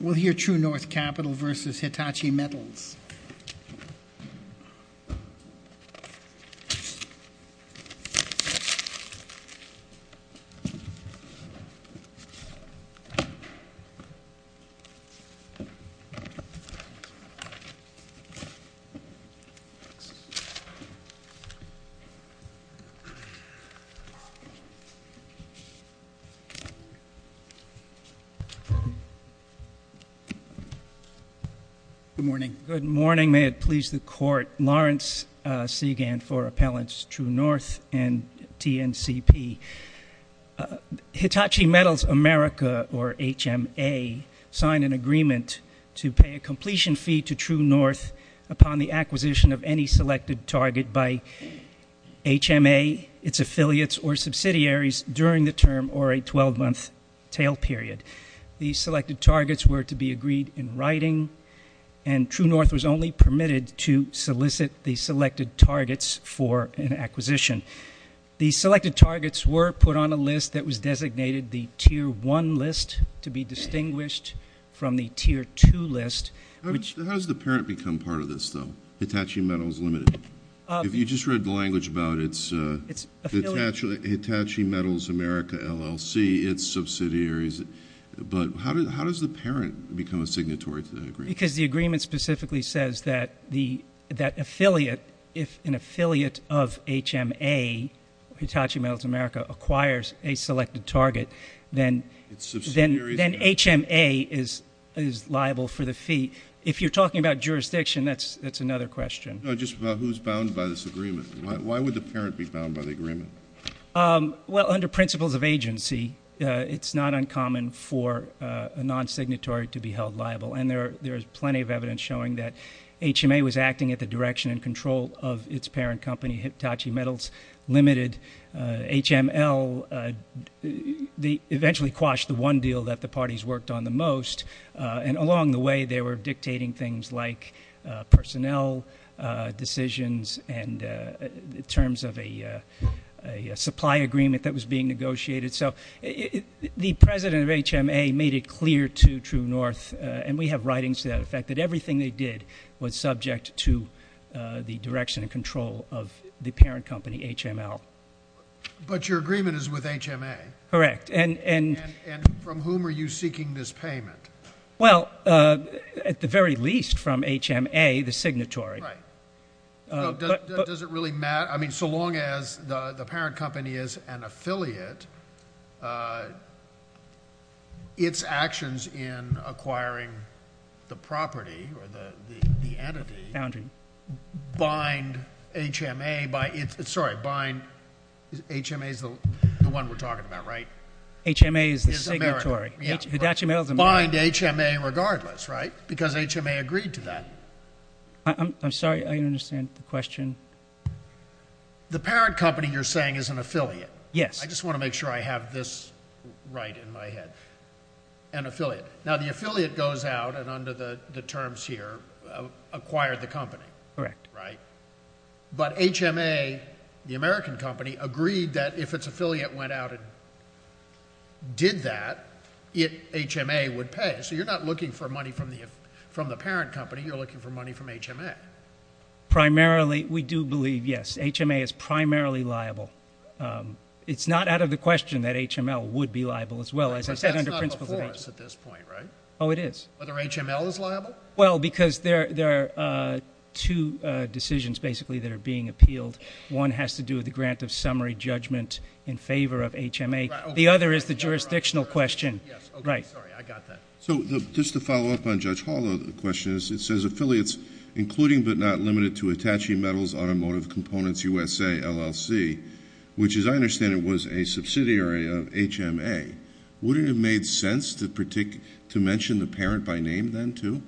We'll hear Truenorth Capital versus Hitachi Metals. Good morning. Good morning. May it please the Court. Lawrence Segan for Appellants Truenorth and TNCP. Hitachi Metals America, or HMA, signed an agreement to pay a completion fee to Truenorth upon the acquisition of any selected target by HMA, its affiliates, or subsidiaries during the term or a 12-month tail period. The selected targets were to be agreed in writing, and Truenorth was only permitted to solicit the selected targets for an acquisition. The selected targets were put on a list that was designated the Tier 1 list, to be distinguished from the Tier 2 list. How does the parent become part of this, though, Hitachi Metals Limited? If you just read the language about it, it's Hitachi Metals America, LLC, its subsidiaries. But how does the parent become a signatory to that agreement? Because the agreement specifically says that the affiliate, if an affiliate of HMA, Hitachi Metals America, acquires a selected target, then HMA is liable for the fee. If you're talking about jurisdiction, that's another question. No, just about who's bound by this agreement. Why would the parent be bound by the agreement? Well, under principles of agency, it's not uncommon for a non-signatory to be held liable. And there is plenty of evidence showing that HMA was acting at the direction and control of its parent company, Hitachi Metals Limited. HML eventually quashed the one deal that the parties worked on the most. And along the way, they were dictating things like personnel decisions and terms of a supply agreement that was being negotiated. So the president of HMA made it clear to True North, and we have writings to that effect, that everything they did was subject to the direction and control of the parent company, HML. But your agreement is with HMA? Correct. And from whom are you seeking this payment? Well, at the very least from HMA, the signatory. Right. Does it really matter? I mean, so long as the parent company is an affiliate, its actions in acquiring the property or the entity bind HMA by its – sorry, bind – HMA is the one we're talking about, right? HMA is the signatory. Is America. Hitachi Metals – Bind HMA regardless, right? Because HMA agreed to that. I'm sorry. I don't understand the question. The parent company you're saying is an affiliate. Yes. I just want to make sure I have this right in my head. An affiliate. Now, the affiliate goes out and under the terms here acquired the company. Correct. Right? But HMA, the American company, agreed that if its affiliate went out and did that, HMA would pay. So you're not looking for money from the parent company. You're looking for money from HMA. Primarily, we do believe, yes, HMA is primarily liable. It's not out of the question that HML would be liable as well. As I said under principles of – That's not before us at this point, right? Oh, it is. Whether HML is liable? Well, because there are two decisions basically that are being appealed. One has to do with the grant of summary judgment in favor of HMA. The other is the jurisdictional question. Yes. Okay. Sorry. I got that. So just to follow up on Judge Hall's question, it says affiliates including but not limited to Attaché Metals Automotive Components USA LLC, which as I understand it was a subsidiary of HMA. Would it have made sense to mention the parent by name then too?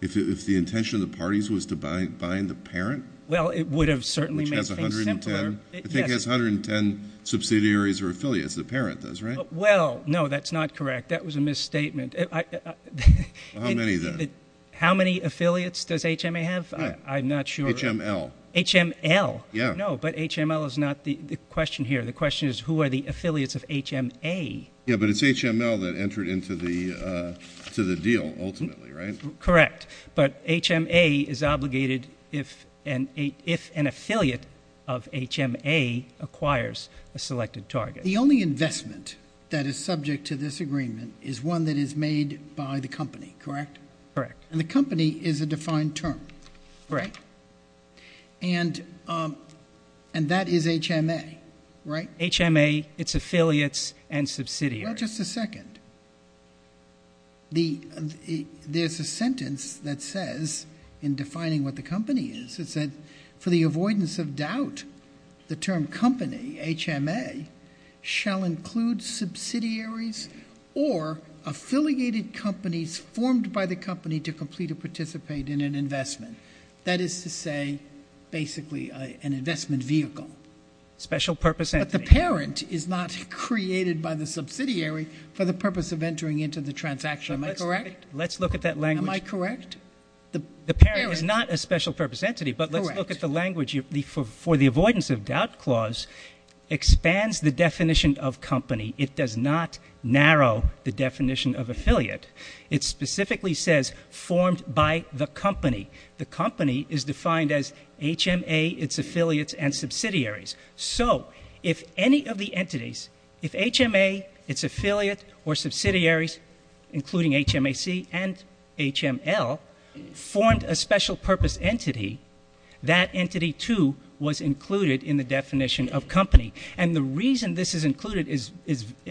If the intention of the parties was to bind the parent? Well, it would have certainly made things simpler. Which has 110. Yes. I think it has 110 subsidiaries or affiliates. The parent does, right? Well, no, that's not correct. That was a misstatement. How many then? How many affiliates does HMA have? I'm not sure. HML. HML? Yes. No, but HML is not the question here. The question is who are the affiliates of HMA? Yes, but it's HML that entered into the deal ultimately, right? Correct. But HMA is obligated if an affiliate of HMA acquires a selected target. The only investment that is subject to this agreement is one that is made by the company, correct? Correct. And the company is a defined term. Correct. And that is HMA, right? HMA, its affiliates, and subsidiaries. Well, just a second. There's a sentence that says, in defining what the company is, it said, for the avoidance of doubt, the term company, HMA, shall include subsidiaries or affiliated companies formed by the company to complete or participate in an investment. That is to say, basically, an investment vehicle. Special purpose entity. But the parent is not created by the subsidiary for the purpose of entering into the transaction. Am I correct? Let's look at that language. Am I correct? The parent is not a special purpose entity, but let's look at the language. Correct. For the avoidance of doubt clause expands the definition of company. It does not narrow the definition of affiliate. It specifically says formed by the company. The company is defined as HMA, its affiliates, and subsidiaries. So if any of the entities, if HMA, its affiliate or subsidiaries, including HMAC and HML, formed a special purpose entity, that entity, too, was included in the definition of company. And the reason this is included is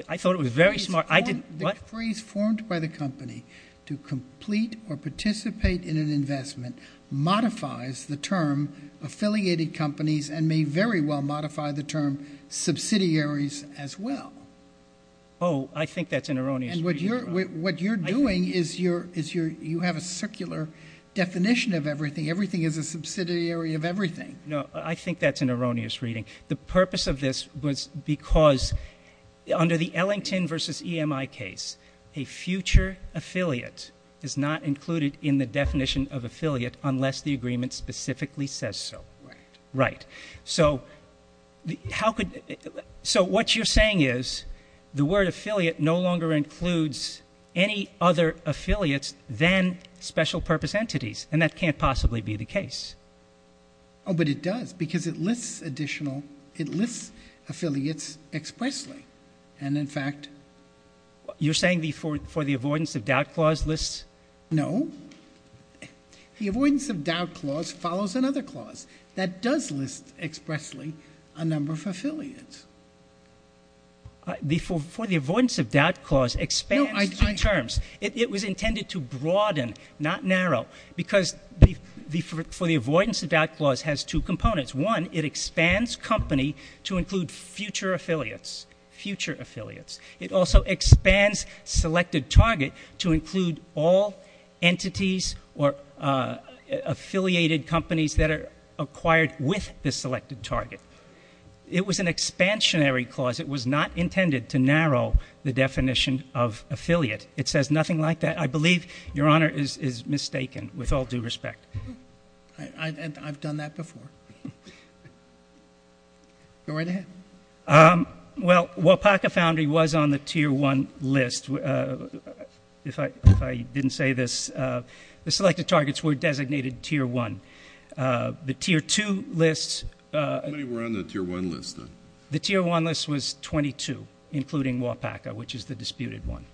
I thought it was very smart. The phrase formed by the company to complete or participate in an investment modifies the term affiliated companies and may very well modify the term subsidiaries as well. Oh, I think that's an erroneous reading. And what you're doing is you have a circular definition of everything. Everything is a subsidiary of everything. No, I think that's an erroneous reading. The purpose of this was because under the Ellington v. EMI case, a future affiliate is not included in the definition of affiliate unless the agreement specifically says so. Right. Right. So what you're saying is the word affiliate no longer includes any other affiliates than special purpose entities, and that can't possibly be the case. Oh, but it does because it lists affiliates expressly. And, in fact, You're saying the for the avoidance of doubt clause lists? No. The avoidance of doubt clause follows another clause that does list expressly a number of affiliates. It was intended to broaden, not narrow, because the for the avoidance of doubt clause has two components. One, it expands company to include future affiliates, future affiliates. It also expands selected target to include all entities or affiliated companies that are acquired with the selected target. It was an expansionary clause. It was not intended to narrow the definition of affiliate. It says nothing like that. I believe Your Honor is mistaken, with all due respect. I've done that before. Go right ahead. Well, WAPACA foundry was on the tier one list. If I didn't say this, the selected targets were designated tier one. The tier two lists. How many were on the tier one list, then? The tier one list was 22, including WAPACA, which is the disputed one.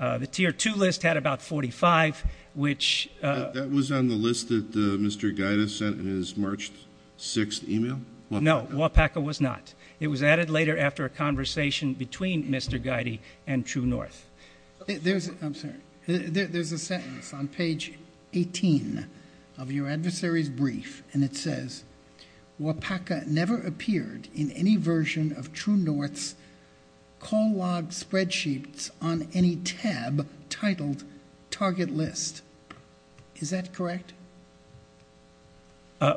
The tier two list had about 45, which That was on the list that Mr. Guida sent in his March 6th email? No, WAPACA was not. It was added later after a conversation between Mr. Guida and True North. I'm sorry. There's a sentence on page 18 of your adversary's brief, and it says, WAPACA never appeared in any version of True North's call log spreadsheets on any tab titled target list. Is that correct?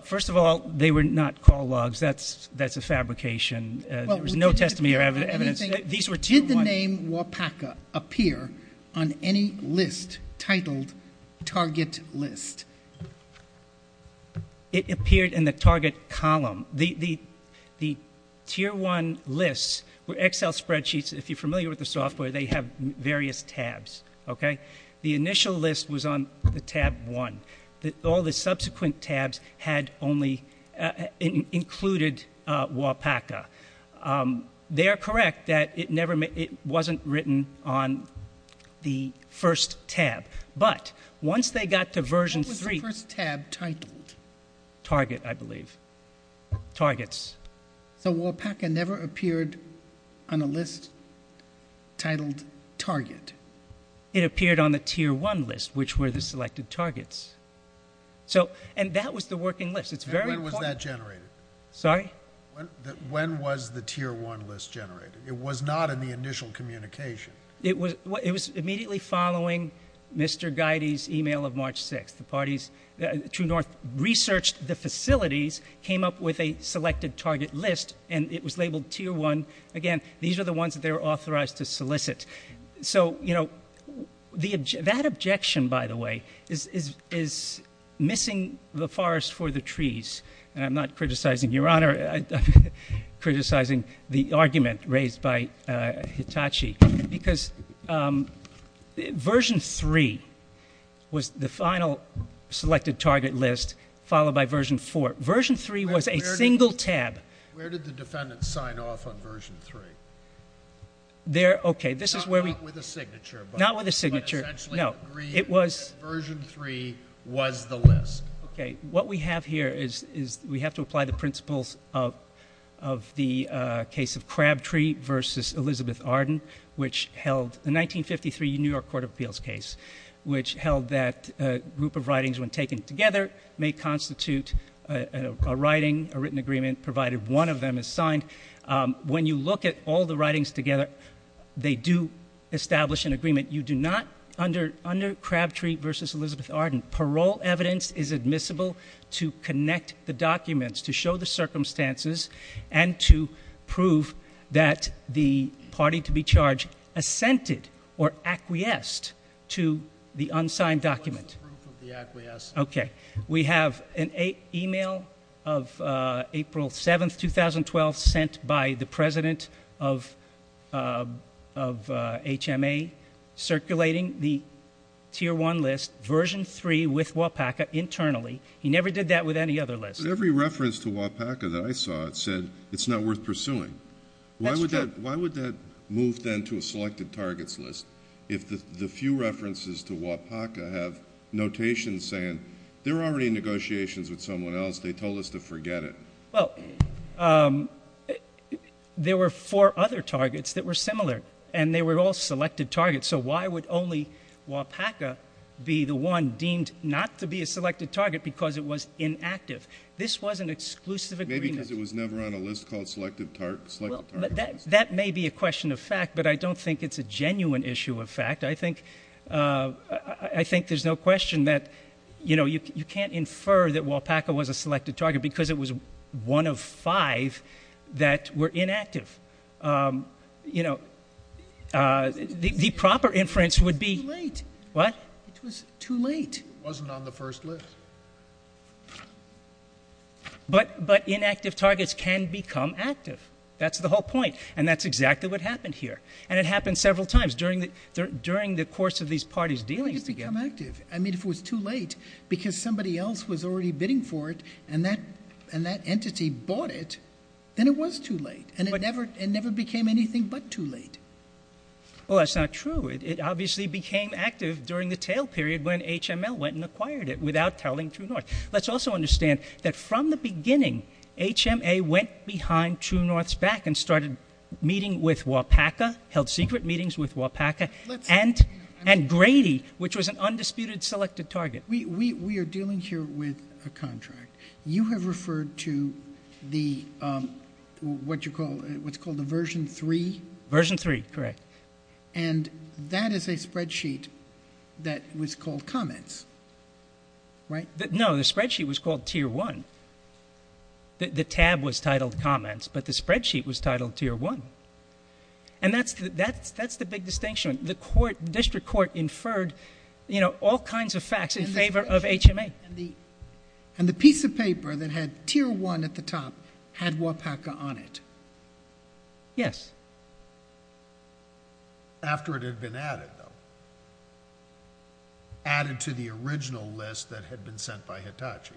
First of all, they were not call logs. That's a fabrication. There was no testimony or evidence. Did the name WAPACA appear on any list titled target list? It appeared in the target column. The tier one lists were Excel spreadsheets. If you're familiar with the software, they have various tabs. The initial list was on the tab one. All the subsequent tabs had only included WAPACA. They are correct that it wasn't written on the first tab. But once they got to version three What was the first tab titled? Target, I believe. Targets. So WAPACA never appeared on a list titled target? It appeared on the tier one list, which were the selected targets. And that was the working list. When was that generated? Sorry? When was the tier one list generated? It was not in the initial communication. It was immediately following Mr. Guyde's email of March 6th. The parties, True North, researched the facilities, came up with a selected target list, and it was labeled tier one. Again, these are the ones that they were authorized to solicit. So, you know, that objection, by the way, is missing the forest for the trees. And I'm not criticizing Your Honor. I'm criticizing the argument raised by Hitachi. Because version three was the final selected target list, followed by version four. Version three was a single tab. Where did the defendants sign off on version three? Okay, this is where we Not with a signature. Not with a signature. But essentially agreed that version three was the list. Okay. What we have here is we have to apply the principles of the case of Crabtree versus Elizabeth Arden, which held the 1953 New York Court of Appeals case, which held that a group of writings, when taken together, may constitute a writing, a written agreement, provided one of them is signed. When you look at all the writings together, they do establish an agreement. You do not, under Crabtree versus Elizabeth Arden, parole evidence is admissible to connect the documents, to show the circumstances, and to prove that the party to be charged assented or acquiesced to the unsigned document. What's the proof of the acquiescence? Okay. We have an e-mail of April 7, 2012, sent by the president of HMA, circulating the tier one list, version three with WAPACA internally. He never did that with any other list. But every reference to WAPACA that I saw said it's not worth pursuing. That's true. Why would that move then to a selected targets list if the few references to WAPACA have notations saying they're already in negotiations with someone else, they told us to forget it? Well, there were four other targets that were similar, and they were all selected targets. So why would only WAPACA be the one deemed not to be a selected target because it was inactive? This was an exclusive agreement. Maybe because it was never on a list called selected targets. That may be a question of fact, but I don't think it's a genuine issue of fact. I think there's no question that you can't infer that WAPACA was a selected target because it was one of five that were inactive. The proper inference would be too late. It wasn't on the first list. But inactive targets can become active. That's the whole point, and that's exactly what happened here. And it happened several times during the course of these parties' dealings together. Why did it become active? I mean, if it was too late because somebody else was already bidding for it and that entity bought it, then it was too late, and it never became anything but too late. Well, that's not true. It obviously became active during the tail period when HML went and acquired it without telling True North. Let's also understand that from the beginning HMA went behind True North's back and started meeting with WAPACA, held secret meetings with WAPACA, and Grady, which was an undisputed selected target. We are dealing here with a contract. You have referred to what's called the Version 3. Version 3, correct. And that is a spreadsheet that was called comments, right? No, the spreadsheet was called Tier 1. The tab was titled comments, but the spreadsheet was titled Tier 1. And that's the big distinction. The district court inferred all kinds of facts in favor of HMA. And the piece of paper that had Tier 1 at the top had WAPACA on it. Yes. After it had been added, though. Added to the original list that had been sent by Hitachi.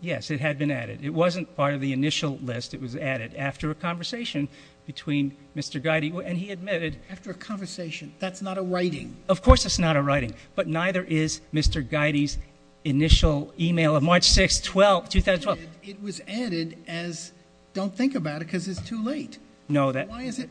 Yes, it had been added. It wasn't part of the initial list. It was added after a conversation between Mr. Geide, and he admitted. After a conversation. That's not a writing. Of course it's not a writing. But neither is Mr. Geide's initial email of March 6, 2012. It was added as don't think about it because it's too late. Why is it?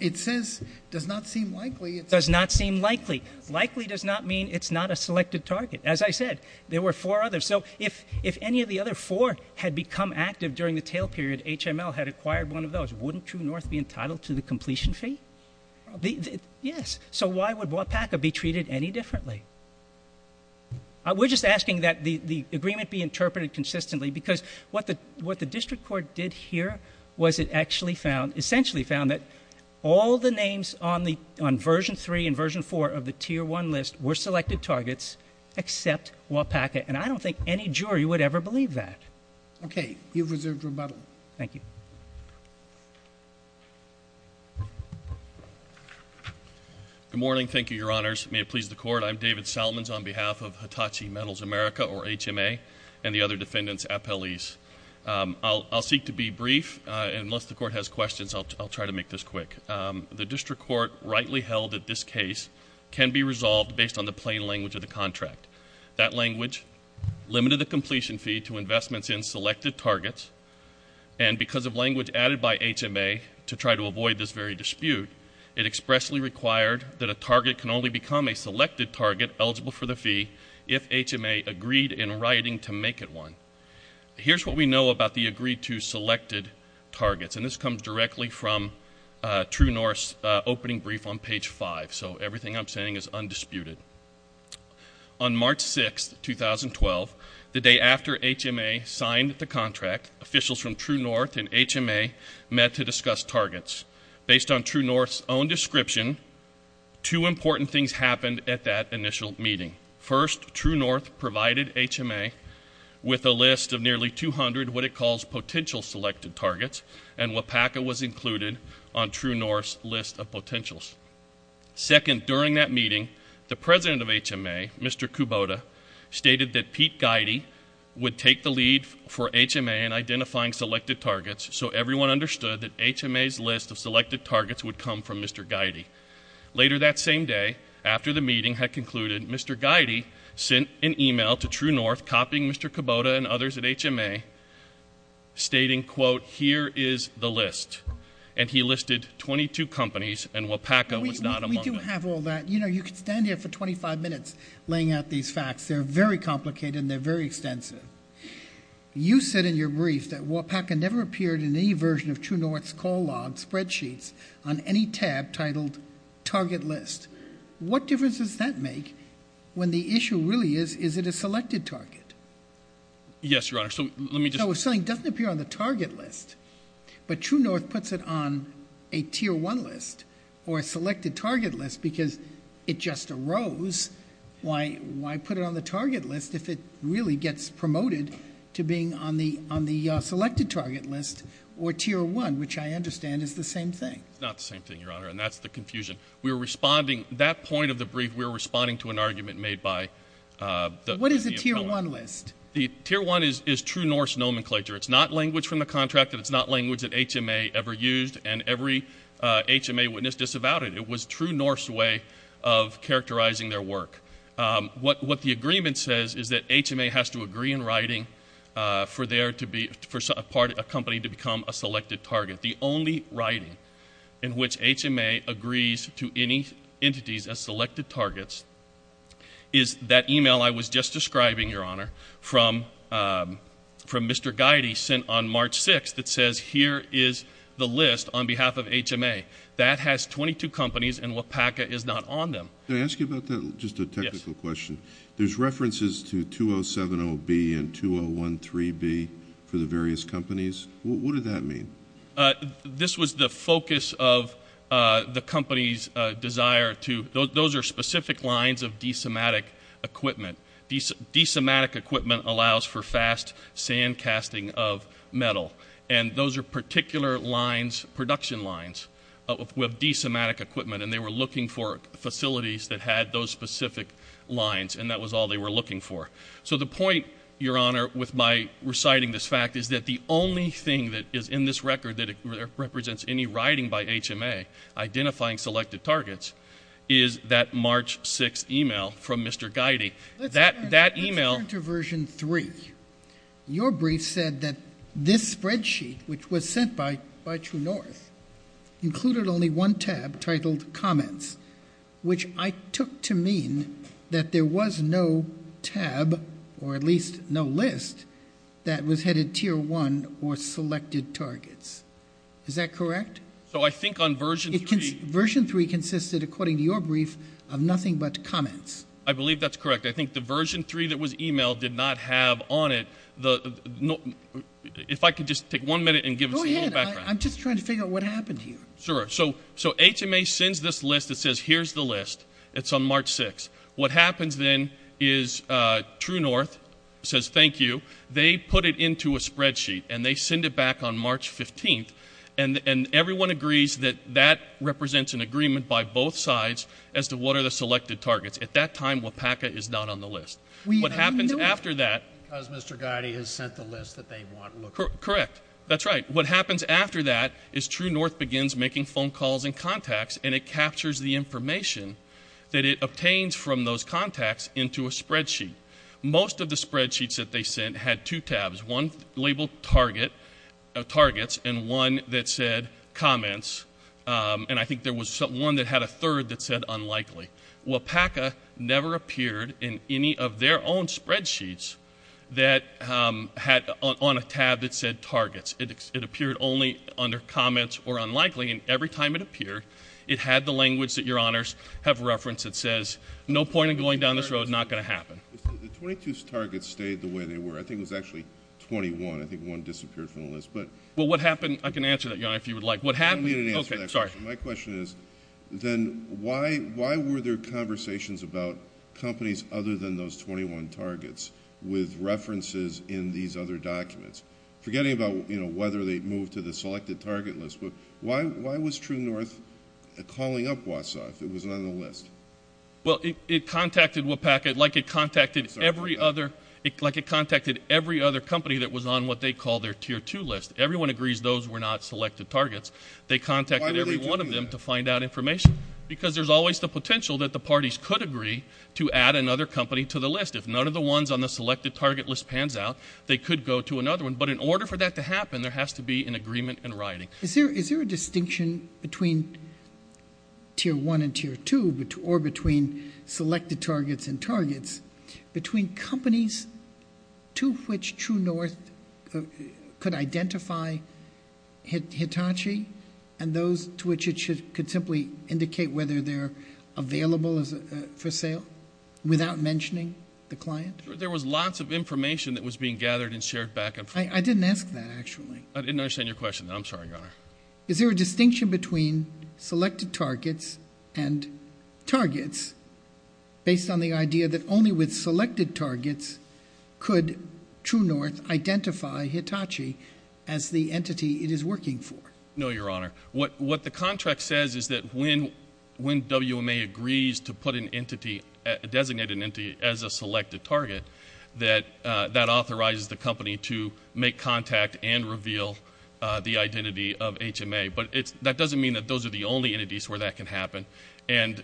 It says does not seem likely. Does not seem likely. Likely does not mean it's not a selected target. As I said, there were four others. So if any of the other four had become active during the tail period, HML had acquired one of those. Wouldn't True North be entitled to the completion fee? Yes. So why would WAPACA be treated any differently? We're just asking that the agreement be interpreted consistently because what the district court did here was it actually found, essentially found that all the names on version 3 and version 4 of the tier 1 list were selected targets except WAPACA. And I don't think any jury would ever believe that. Okay. You've reserved rebuttal. Thank you. Good morning. Thank you, Your Honors. May it please the Court. I'm David Salmons on behalf of Hitachi Metals America, or HMA, and the other defendants' appellees. I'll seek to be brief. Unless the Court has questions, I'll try to make this quick. The district court rightly held that this case can be resolved based on the plain language of the contract. That language limited the completion fee to investments in selected targets. And because of language added by HMA to try to avoid this very dispute, it expressly required that a target can only become a selected target eligible for the fee if HMA agreed in writing to make it one. Here's what we know about the agreed to selected targets, and this comes directly from True North's opening brief on page 5. So everything I'm saying is undisputed. On March 6, 2012, the day after HMA signed the contract, officials from True North and HMA met to discuss targets. Based on True North's own description, two important things happened at that initial meeting. First, True North provided HMA with a list of nearly 200 what it calls potential selected targets, and WIPACA was included on True North's list of potentials. Second, during that meeting, the president of HMA, Mr. Kubota, stated that Pete Geide would take the lead for HMA in identifying selected targets so everyone understood that HMA's list of selected targets would come from Mr. Geide. Later that same day, after the meeting had concluded, Mr. Geide sent an e-mail to True North copying Mr. Kubota and others at HMA, stating, quote, here is the list. And he listed 22 companies, and WIPACA was not among them. We do have all that. You know, you could stand here for 25 minutes laying out these facts. They're very complicated and they're very extensive. You said in your brief that WIPACA never appeared in any version of True North's call log spreadsheets on any tab titled target list. What difference does that make when the issue really is, is it a selected target? Yes, Your Honor. So if something doesn't appear on the target list, but True North puts it on a tier one list or a selected target list because it just arose, why put it on the target list if it really gets promoted to being on the selected target list or tier one, which I understand is the same thing. It's not the same thing, Your Honor, and that's the confusion. We were responding, that point of the brief, we were responding to an argument made by the opponent. What is a tier one list? The tier one is True North's nomenclature. It's not language from the contract and it's not language that HMA ever used, and every HMA witness disavowed it. It was True North's way of characterizing their work. What the agreement says is that HMA has to agree in writing for a company to become a selected target. The only writing in which HMA agrees to any entities as selected targets is that e-mail I was just describing, Your Honor, from Mr. Geide sent on March 6th that says here is the list on behalf of HMA. That has 22 companies and WPACA is not on them. Can I ask you about that, just a technical question? Yes. There's references to 2070B and 2013B for the various companies. What did that mean? This was the focus of the company's desire to – those are specific lines of de-sematic equipment. De-sematic equipment allows for fast sand casting of metal, and those are particular lines, production lines of de-sematic equipment, and they were looking for facilities that had those specific lines, and that was all they were looking for. So the point, Your Honor, with my reciting this fact is that the only thing that is in this record that represents any writing by HMA identifying selected targets is that March 6th e-mail from Mr. Geide. Let's turn to version 3. Your brief said that this spreadsheet, which was sent by True North, included only one tab titled comments, which I took to mean that there was no tab, or at least no list, that was headed tier 1 or selected targets. Is that correct? So I think on version 3 – Version 3 consisted, according to your brief, of nothing but comments. I believe that's correct. I think the version 3 that was e-mailed did not have on it the – if I could just take one minute and give us a little background. Go ahead. I'm just trying to figure out what happened here. Sure. So HMA sends this list that says here's the list. It's on March 6th. What happens then is True North says thank you. They put it into a spreadsheet, and they send it back on March 15th, and everyone agrees that that represents an agreement by both sides as to what are the selected targets. At that time, WPACA is not on the list. What happens after that – Because Mr. Gotti has sent the list that they want. Correct. That's right. What happens after that is True North begins making phone calls and contacts, and it captures the information that it obtains from those contacts into a spreadsheet. Most of the spreadsheets that they sent had two tabs, one labeled targets and one that said comments, and I think there was one that had a third that said unlikely. WPACA never appeared in any of their own spreadsheets that had on a tab that said targets. It appeared only under comments or unlikely, and every time it appeared, it had the language that your honors have referenced that says no point in going down this road. It's not going to happen. The 22 targets stayed the way they were. I think it was actually 21. I think one disappeared from the list. Well, what happened – I can answer that, Your Honor, if you would like. I don't need an answer to that question. Okay. Sorry. My question is then why were there conversations about companies other than those 21 targets with references in these other documents, forgetting about whether they moved to the selected target list, but why was True North calling up WASA if it wasn't on the list? Well, it contacted WPACA like it contacted every other company that was on what they call their tier two list. Everyone agrees those were not selected targets. They contacted every one of them to find out information because there's always the potential that the parties could agree to add another company to the list. If none of the ones on the selected target list pans out, they could go to another one. But in order for that to happen, there has to be an agreement in writing. Is there a distinction between tier one and tier two or between selected targets and targets, between companies to which True North could identify Hitachi and those to which it could simply indicate whether they're available for sale without mentioning the client? There was lots of information that was being gathered and shared back and forth. I didn't ask that, actually. I'm sorry, Your Honor. Is there a distinction between selected targets and targets based on the idea that only with selected targets could True North identify Hitachi as the entity it is working for? No, Your Honor. What the contract says is that when WMA agrees to put an entity, designate an entity as a selected target, that authorizes the company to make contact and reveal the identity of HMA. But that doesn't mean that those are the only entities where that can happen. And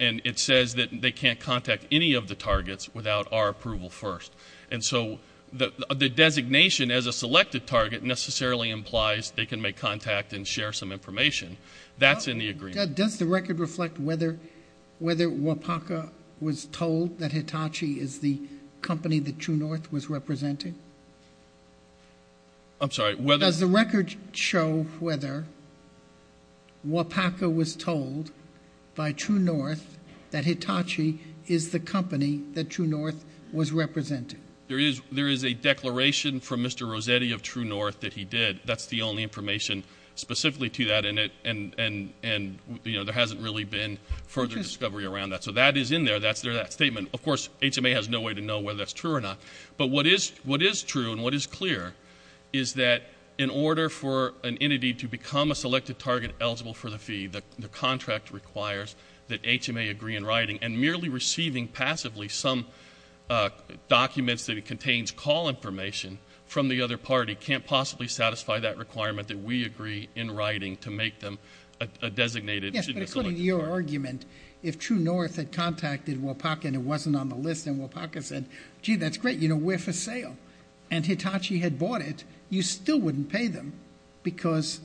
it says that they can't contact any of the targets without our approval first. And so the designation as a selected target necessarily implies they can make contact and share some information. That's in the agreement. Judge, does the record reflect whether WAPACA was told that Hitachi is the company that True North was representing? I'm sorry. Does the record show whether WAPACA was told by True North that Hitachi is the company that True North was representing? There is a declaration from Mr. Rossetti of True North that he did. That's the only information specifically to that. And there hasn't really been further discovery around that. So that is in there. That's their statement. Of course, HMA has no way to know whether that's true or not. But what is true and what is clear is that in order for an entity to become a selected target eligible for the fee, the contract requires that HMA agree in writing. And merely receiving passively some documents that contains call information from the other party can't possibly satisfy that requirement that we agree in writing to make them a designated selected target. Yes, but according to your argument, if True North had contacted WAPACA and it wasn't on the list and WAPACA said, gee, that's great, you know, we're for sale, and Hitachi had bought it, you still wouldn't pay them because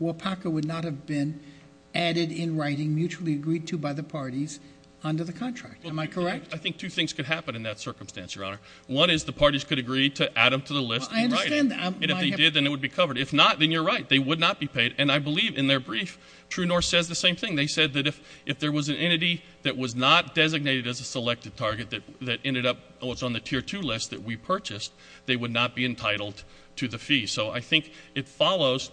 WAPACA would not have been added in writing, mutually agreed to by the parties under the contract. Am I correct? I think two things could happen in that circumstance, Your Honor. One is the parties could agree to add them to the list in writing. I understand that. And if they did, then it would be covered. If not, then you're right. They would not be paid. And I believe in their brief, True North says the same thing. They said that if there was an entity that was not designated as a selected target that ended up on the tier two list that we purchased, they would not be entitled to the fee. So I think it follows.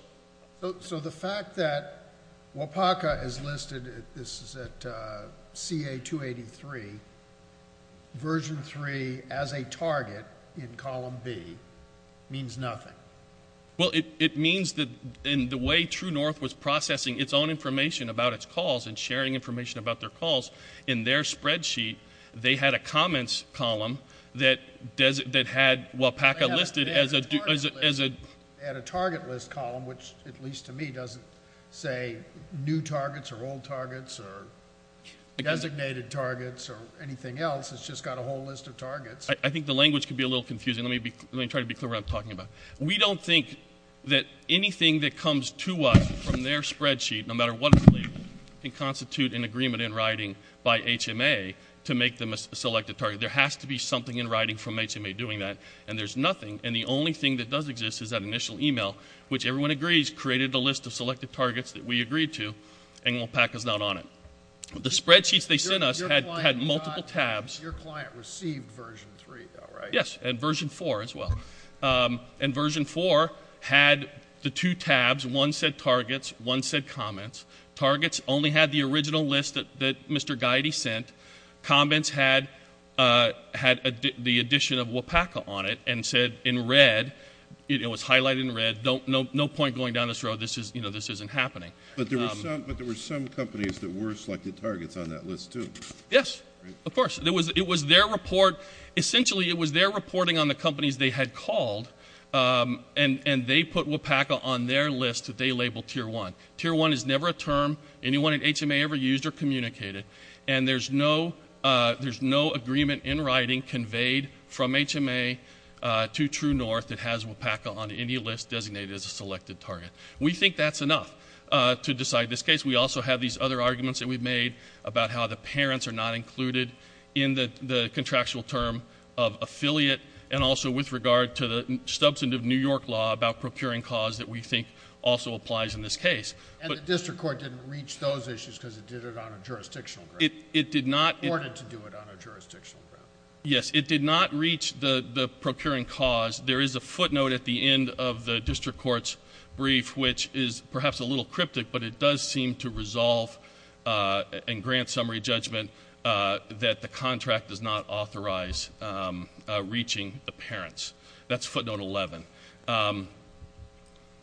So the fact that WAPACA is listed, this is at CA-283, version three as a target in column B means nothing? Well, it means that in the way True North was processing its own information about its calls and sharing information about their calls, in their spreadsheet, they had a comments column that had WAPACA listed as a — They had a target list column, which at least to me doesn't say new targets or old targets or designated targets or anything else. It's just got a whole list of targets. I think the language could be a little confusing. Let me try to be clear what I'm talking about. We don't think that anything that comes to us from their spreadsheet, no matter what it is, can constitute an agreement in writing by HMA to make them a selected target. There has to be something in writing from HMA doing that, and there's nothing. And the only thing that does exist is that initial email, which everyone agrees created a list of selected targets that we agreed to, and WAPACA's not on it. The spreadsheets they sent us had multiple tabs. Your client received version three, though, right? Yes, and version four as well. And version four had the two tabs. One said targets, one said comments. Targets only had the original list that Mr. Giety sent. Comments had the addition of WAPACA on it and said in red, it was highlighted in red, no point going down this road. This isn't happening. But there were some companies that were selected targets on that list, too. Yes, of course. Essentially, it was their reporting on the companies they had called, and they put WAPACA on their list that they labeled Tier 1. Tier 1 is never a term anyone at HMA ever used or communicated, and there's no agreement in writing conveyed from HMA to TrueNorth that has WAPACA on any list designated as a selected target. We think that's enough to decide this case. We also have these other arguments that we've made about how the parents are not included in the contractual term of affiliate, and also with regard to the substantive New York law about procuring cause that we think also applies in this case. And the district court didn't reach those issues because it did it on a jurisdictional ground. It did not. It ordered to do it on a jurisdictional ground. Yes, it did not reach the procuring cause. There is a footnote at the end of the district court's brief, which is perhaps a little cryptic, but it does seem to resolve and grant summary judgment that the contract does not authorize reaching the parents. That's footnote 11.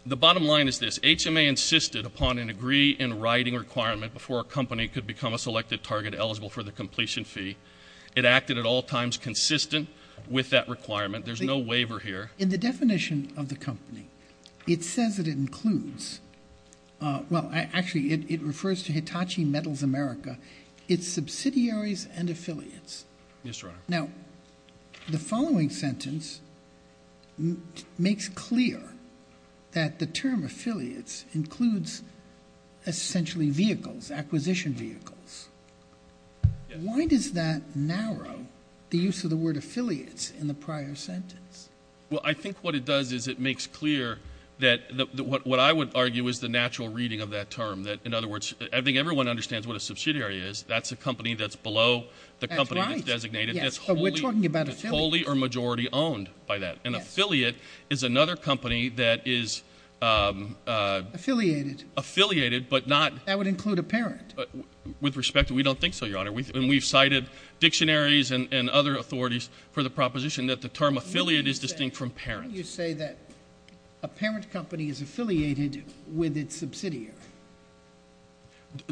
The bottom line is this. HMA insisted upon an agree-in-writing requirement before a company could become a selected target eligible for the completion fee. It acted at all times consistent with that requirement. There's no waiver here. In the definition of the company, it says that it includes, well, actually it refers to Hitachi Metals America. It's subsidiaries and affiliates. Yes, Your Honor. Now, the following sentence makes clear that the term affiliates includes essentially vehicles, acquisition vehicles. Why does that narrow the use of the word affiliates in the prior sentence? Well, I think what it does is it makes clear that what I would argue is the natural reading of that term, that, in other words, I think everyone understands what a subsidiary is. That's a company that's below the company that's designated. Yes, but we're talking about affiliates. That's wholly or majority owned by that. Yes. An affiliate is another company that is... Affiliated. Affiliated, but not... That would include a parent. With respect, we don't think so, Your Honor. And we've cited dictionaries and other authorities for the proposition that the term affiliate is distinct from parent. Why don't you say that a parent company is affiliated with its subsidiary?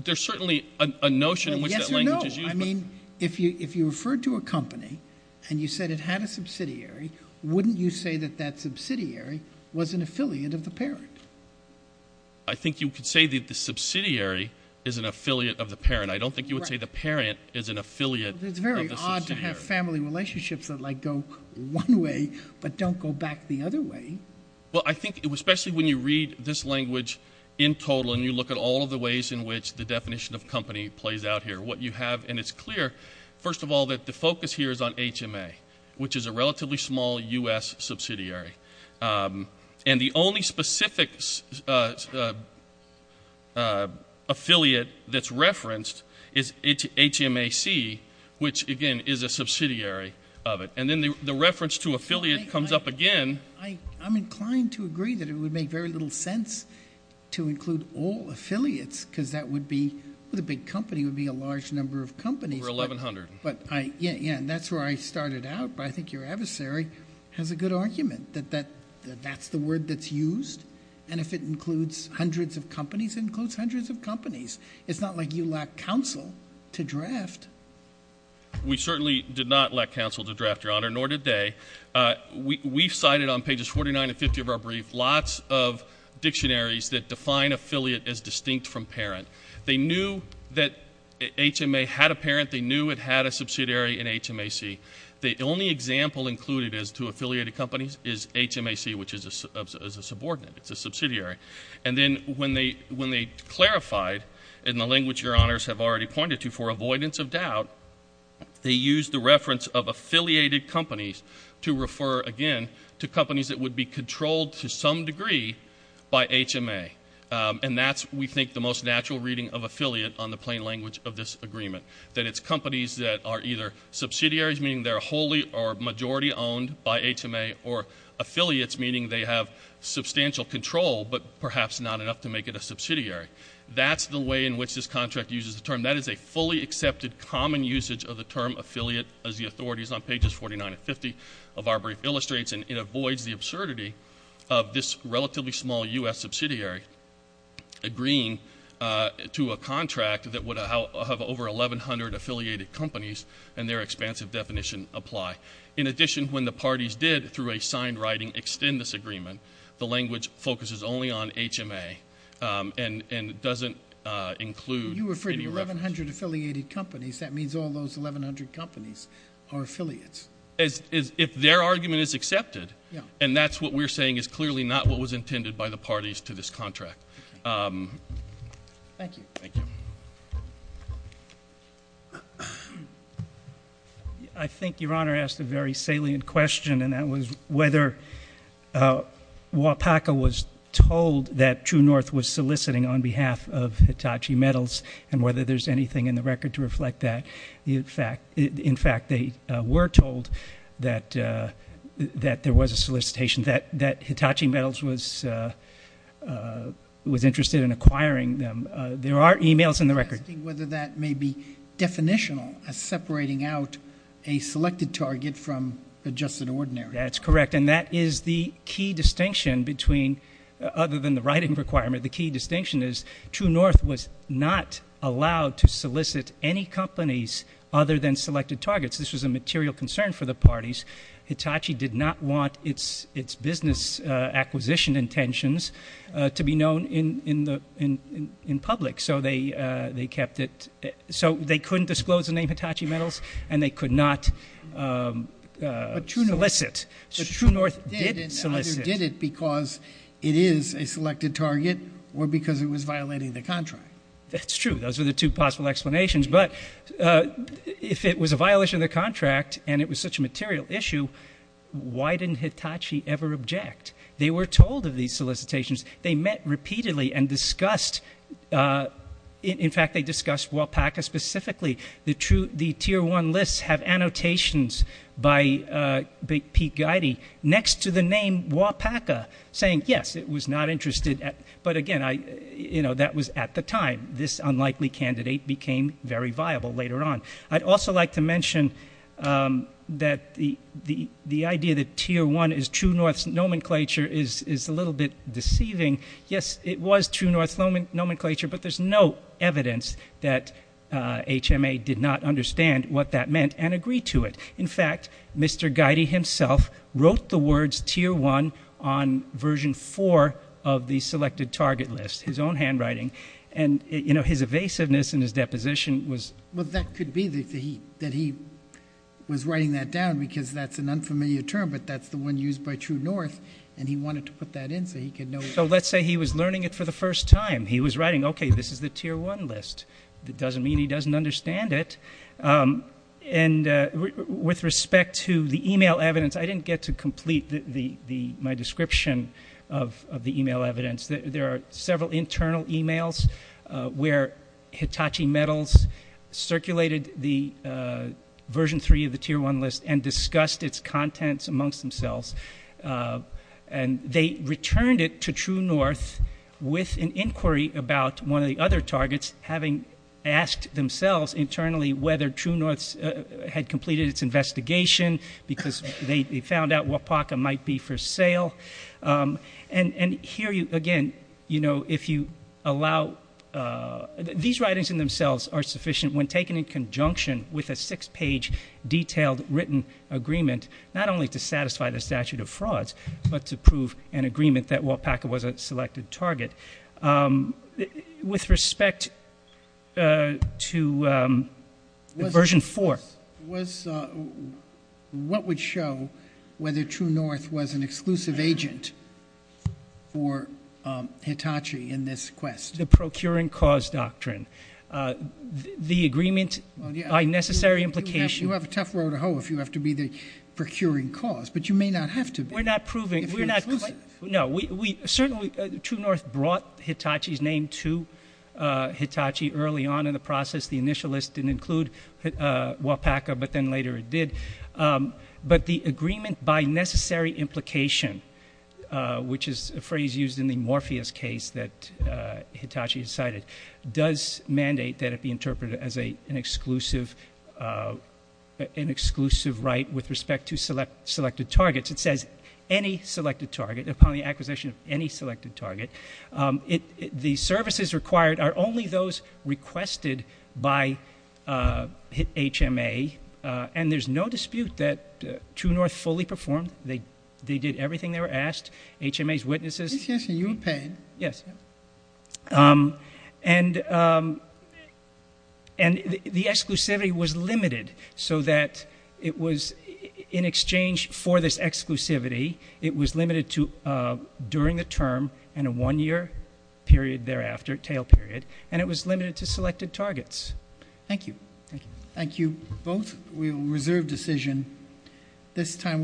There's certainly a notion in which that language is used. Well, yes or no. I mean, if you referred to a company and you said it had a subsidiary, wouldn't you say that that subsidiary was an affiliate of the parent? I think you could say that the subsidiary is an affiliate of the parent. I don't think you would say the parent is an affiliate of the subsidiary. It's very odd to have family relationships that, like, go one way but don't go back the other way. Well, I think especially when you read this language in total and you look at all of the ways in which the definition of company plays out here, what you have, and it's clear, first of all, that the focus here is on HMA, which is a relatively small U.S. subsidiary. And the only specific affiliate that's referenced is HMAC, which, again, is a subsidiary of it. And then the reference to affiliate comes up again. I'm inclined to agree that it would make very little sense to include all affiliates because that would be the big company would be a large number of companies. Over 1,100. Yeah, and that's where I started out. But I think your adversary has a good argument that that's the word that's used, and if it includes hundreds of companies, it includes hundreds of companies. It's not like you lack counsel to draft. We certainly did not lack counsel to draft, Your Honor, nor did they. We cited on pages 49 and 50 of our brief lots of dictionaries that define affiliate as distinct from parent. They knew that HMA had a parent. They knew it had a subsidiary in HMAC. The only example included as to affiliated companies is HMAC, which is a subordinate. It's a subsidiary. And then when they clarified, in the language Your Honors have already pointed to, for avoidance of doubt, they used the reference of affiliated companies to refer again to companies that would be controlled to some degree by HMA. And that's, we think, the most natural reading of affiliate on the plain language of this agreement, that it's companies that are either subsidiaries, meaning they're wholly or majority owned by HMA, or affiliates, meaning they have substantial control but perhaps not enough to make it a subsidiary. That's the way in which this contract uses the term. That is a fully accepted common usage of the term affiliate, as the authorities on pages 49 and 50 of our brief illustrates, and it avoids the absurdity of this relatively small U.S. subsidiary agreeing to a contract that would have over 1,100 affiliated companies and their expansive definition apply. In addition, when the parties did, through a signed writing, extend this agreement, the language focuses only on HMA and doesn't include any reference. You referred to 1,100 affiliated companies. That means all those 1,100 companies are affiliates. If their argument is accepted, and that's what we're saying is clearly not what was intended by the parties to this contract. Thank you. Thank you. I think Your Honor asked a very salient question, and that was whether WAPACA was told that True North was soliciting on behalf of Hitachi Metals and whether there's anything in the record to reflect that. In fact, they were told that there was a solicitation, that Hitachi Metals was interested in acquiring them. There are e-mails in the record. I'm asking whether that may be definitional as separating out a selected target from a just and ordinary. That's correct, and that is the key distinction between other than the writing requirement. The key distinction is True North was not allowed to solicit any companies other than selected targets. This was a material concern for the parties. Hitachi did not want its business acquisition intentions to be known in public, so they couldn't disclose the name Hitachi Metals, and they could not solicit. But True North did solicit. It either did it because it is a selected target or because it was violating the contract. That's true. Those are the two possible explanations. But if it was a violation of the contract and it was such a material issue, why didn't Hitachi ever object? They were told of these solicitations. They met repeatedly and discussed. In fact, they discussed WAPACA specifically. The Tier 1 lists have annotations by Pete Geide next to the name WAPACA saying, yes, it was not interested. But, again, that was at the time. This unlikely candidate became very viable later on. I'd also like to mention that the idea that Tier 1 is True North's nomenclature is a little bit deceiving. Yes, it was True North's nomenclature, but there's no evidence that HMA did not understand what that meant and agree to it. In fact, Mr. Geide himself wrote the words Tier 1 on version 4 of the selected target list, his own handwriting. And, you know, his evasiveness in his deposition was ‑‑ Well, that could be that he was writing that down because that's an unfamiliar term, but that's the one used by True North, and he wanted to put that in so he could know. So let's say he was learning it for the first time. He was writing, okay, this is the Tier 1 list. That doesn't mean he doesn't understand it. And with respect to the e‑mail evidence, I didn't get to complete my description of the e‑mail evidence. There are several internal e‑mails where Hitachi Metals circulated the version 3 of the Tier 1 list and discussed its contents amongst themselves. And they returned it to True North with an inquiry about one of the other targets, having asked themselves internally whether True North had completed its investigation because they found out Wapaka might be for sale. And here, again, you know, if you allow ‑‑ These writings in themselves are sufficient when taken in conjunction with a six‑page detailed written agreement, not only to satisfy the statute of frauds, but to prove an agreement that Wapaka was a selected target. With respect to version 4. What would show whether True North was an exclusive agent for Hitachi in this quest? The procuring cause doctrine. The agreement by necessary implication. You have a tough row to hoe if you have to be the procuring cause, but you may not have to be. We're not proving. No, we certainly ‑‑ True North brought Hitachi's name to Hitachi early on in the process. The initial list didn't include Wapaka, but then later it did. But the agreement by necessary implication, which is a phrase used in the Morpheus case that Hitachi cited, does mandate that it be interpreted as an exclusive right with respect to selected targets. It says any selected target, upon the acquisition of any selected target. The services required are only those requested by HMA. And there's no dispute that True North fully performed. They did everything they were asked. HMA's witnesses. Yes. And the exclusivity was limited so that it was, in exchange for this exclusivity, it was limited to during the term and a one‑year period thereafter, tail period, and it was limited to selected targets. Thank you. Thank you both. We will reserve decision. This time.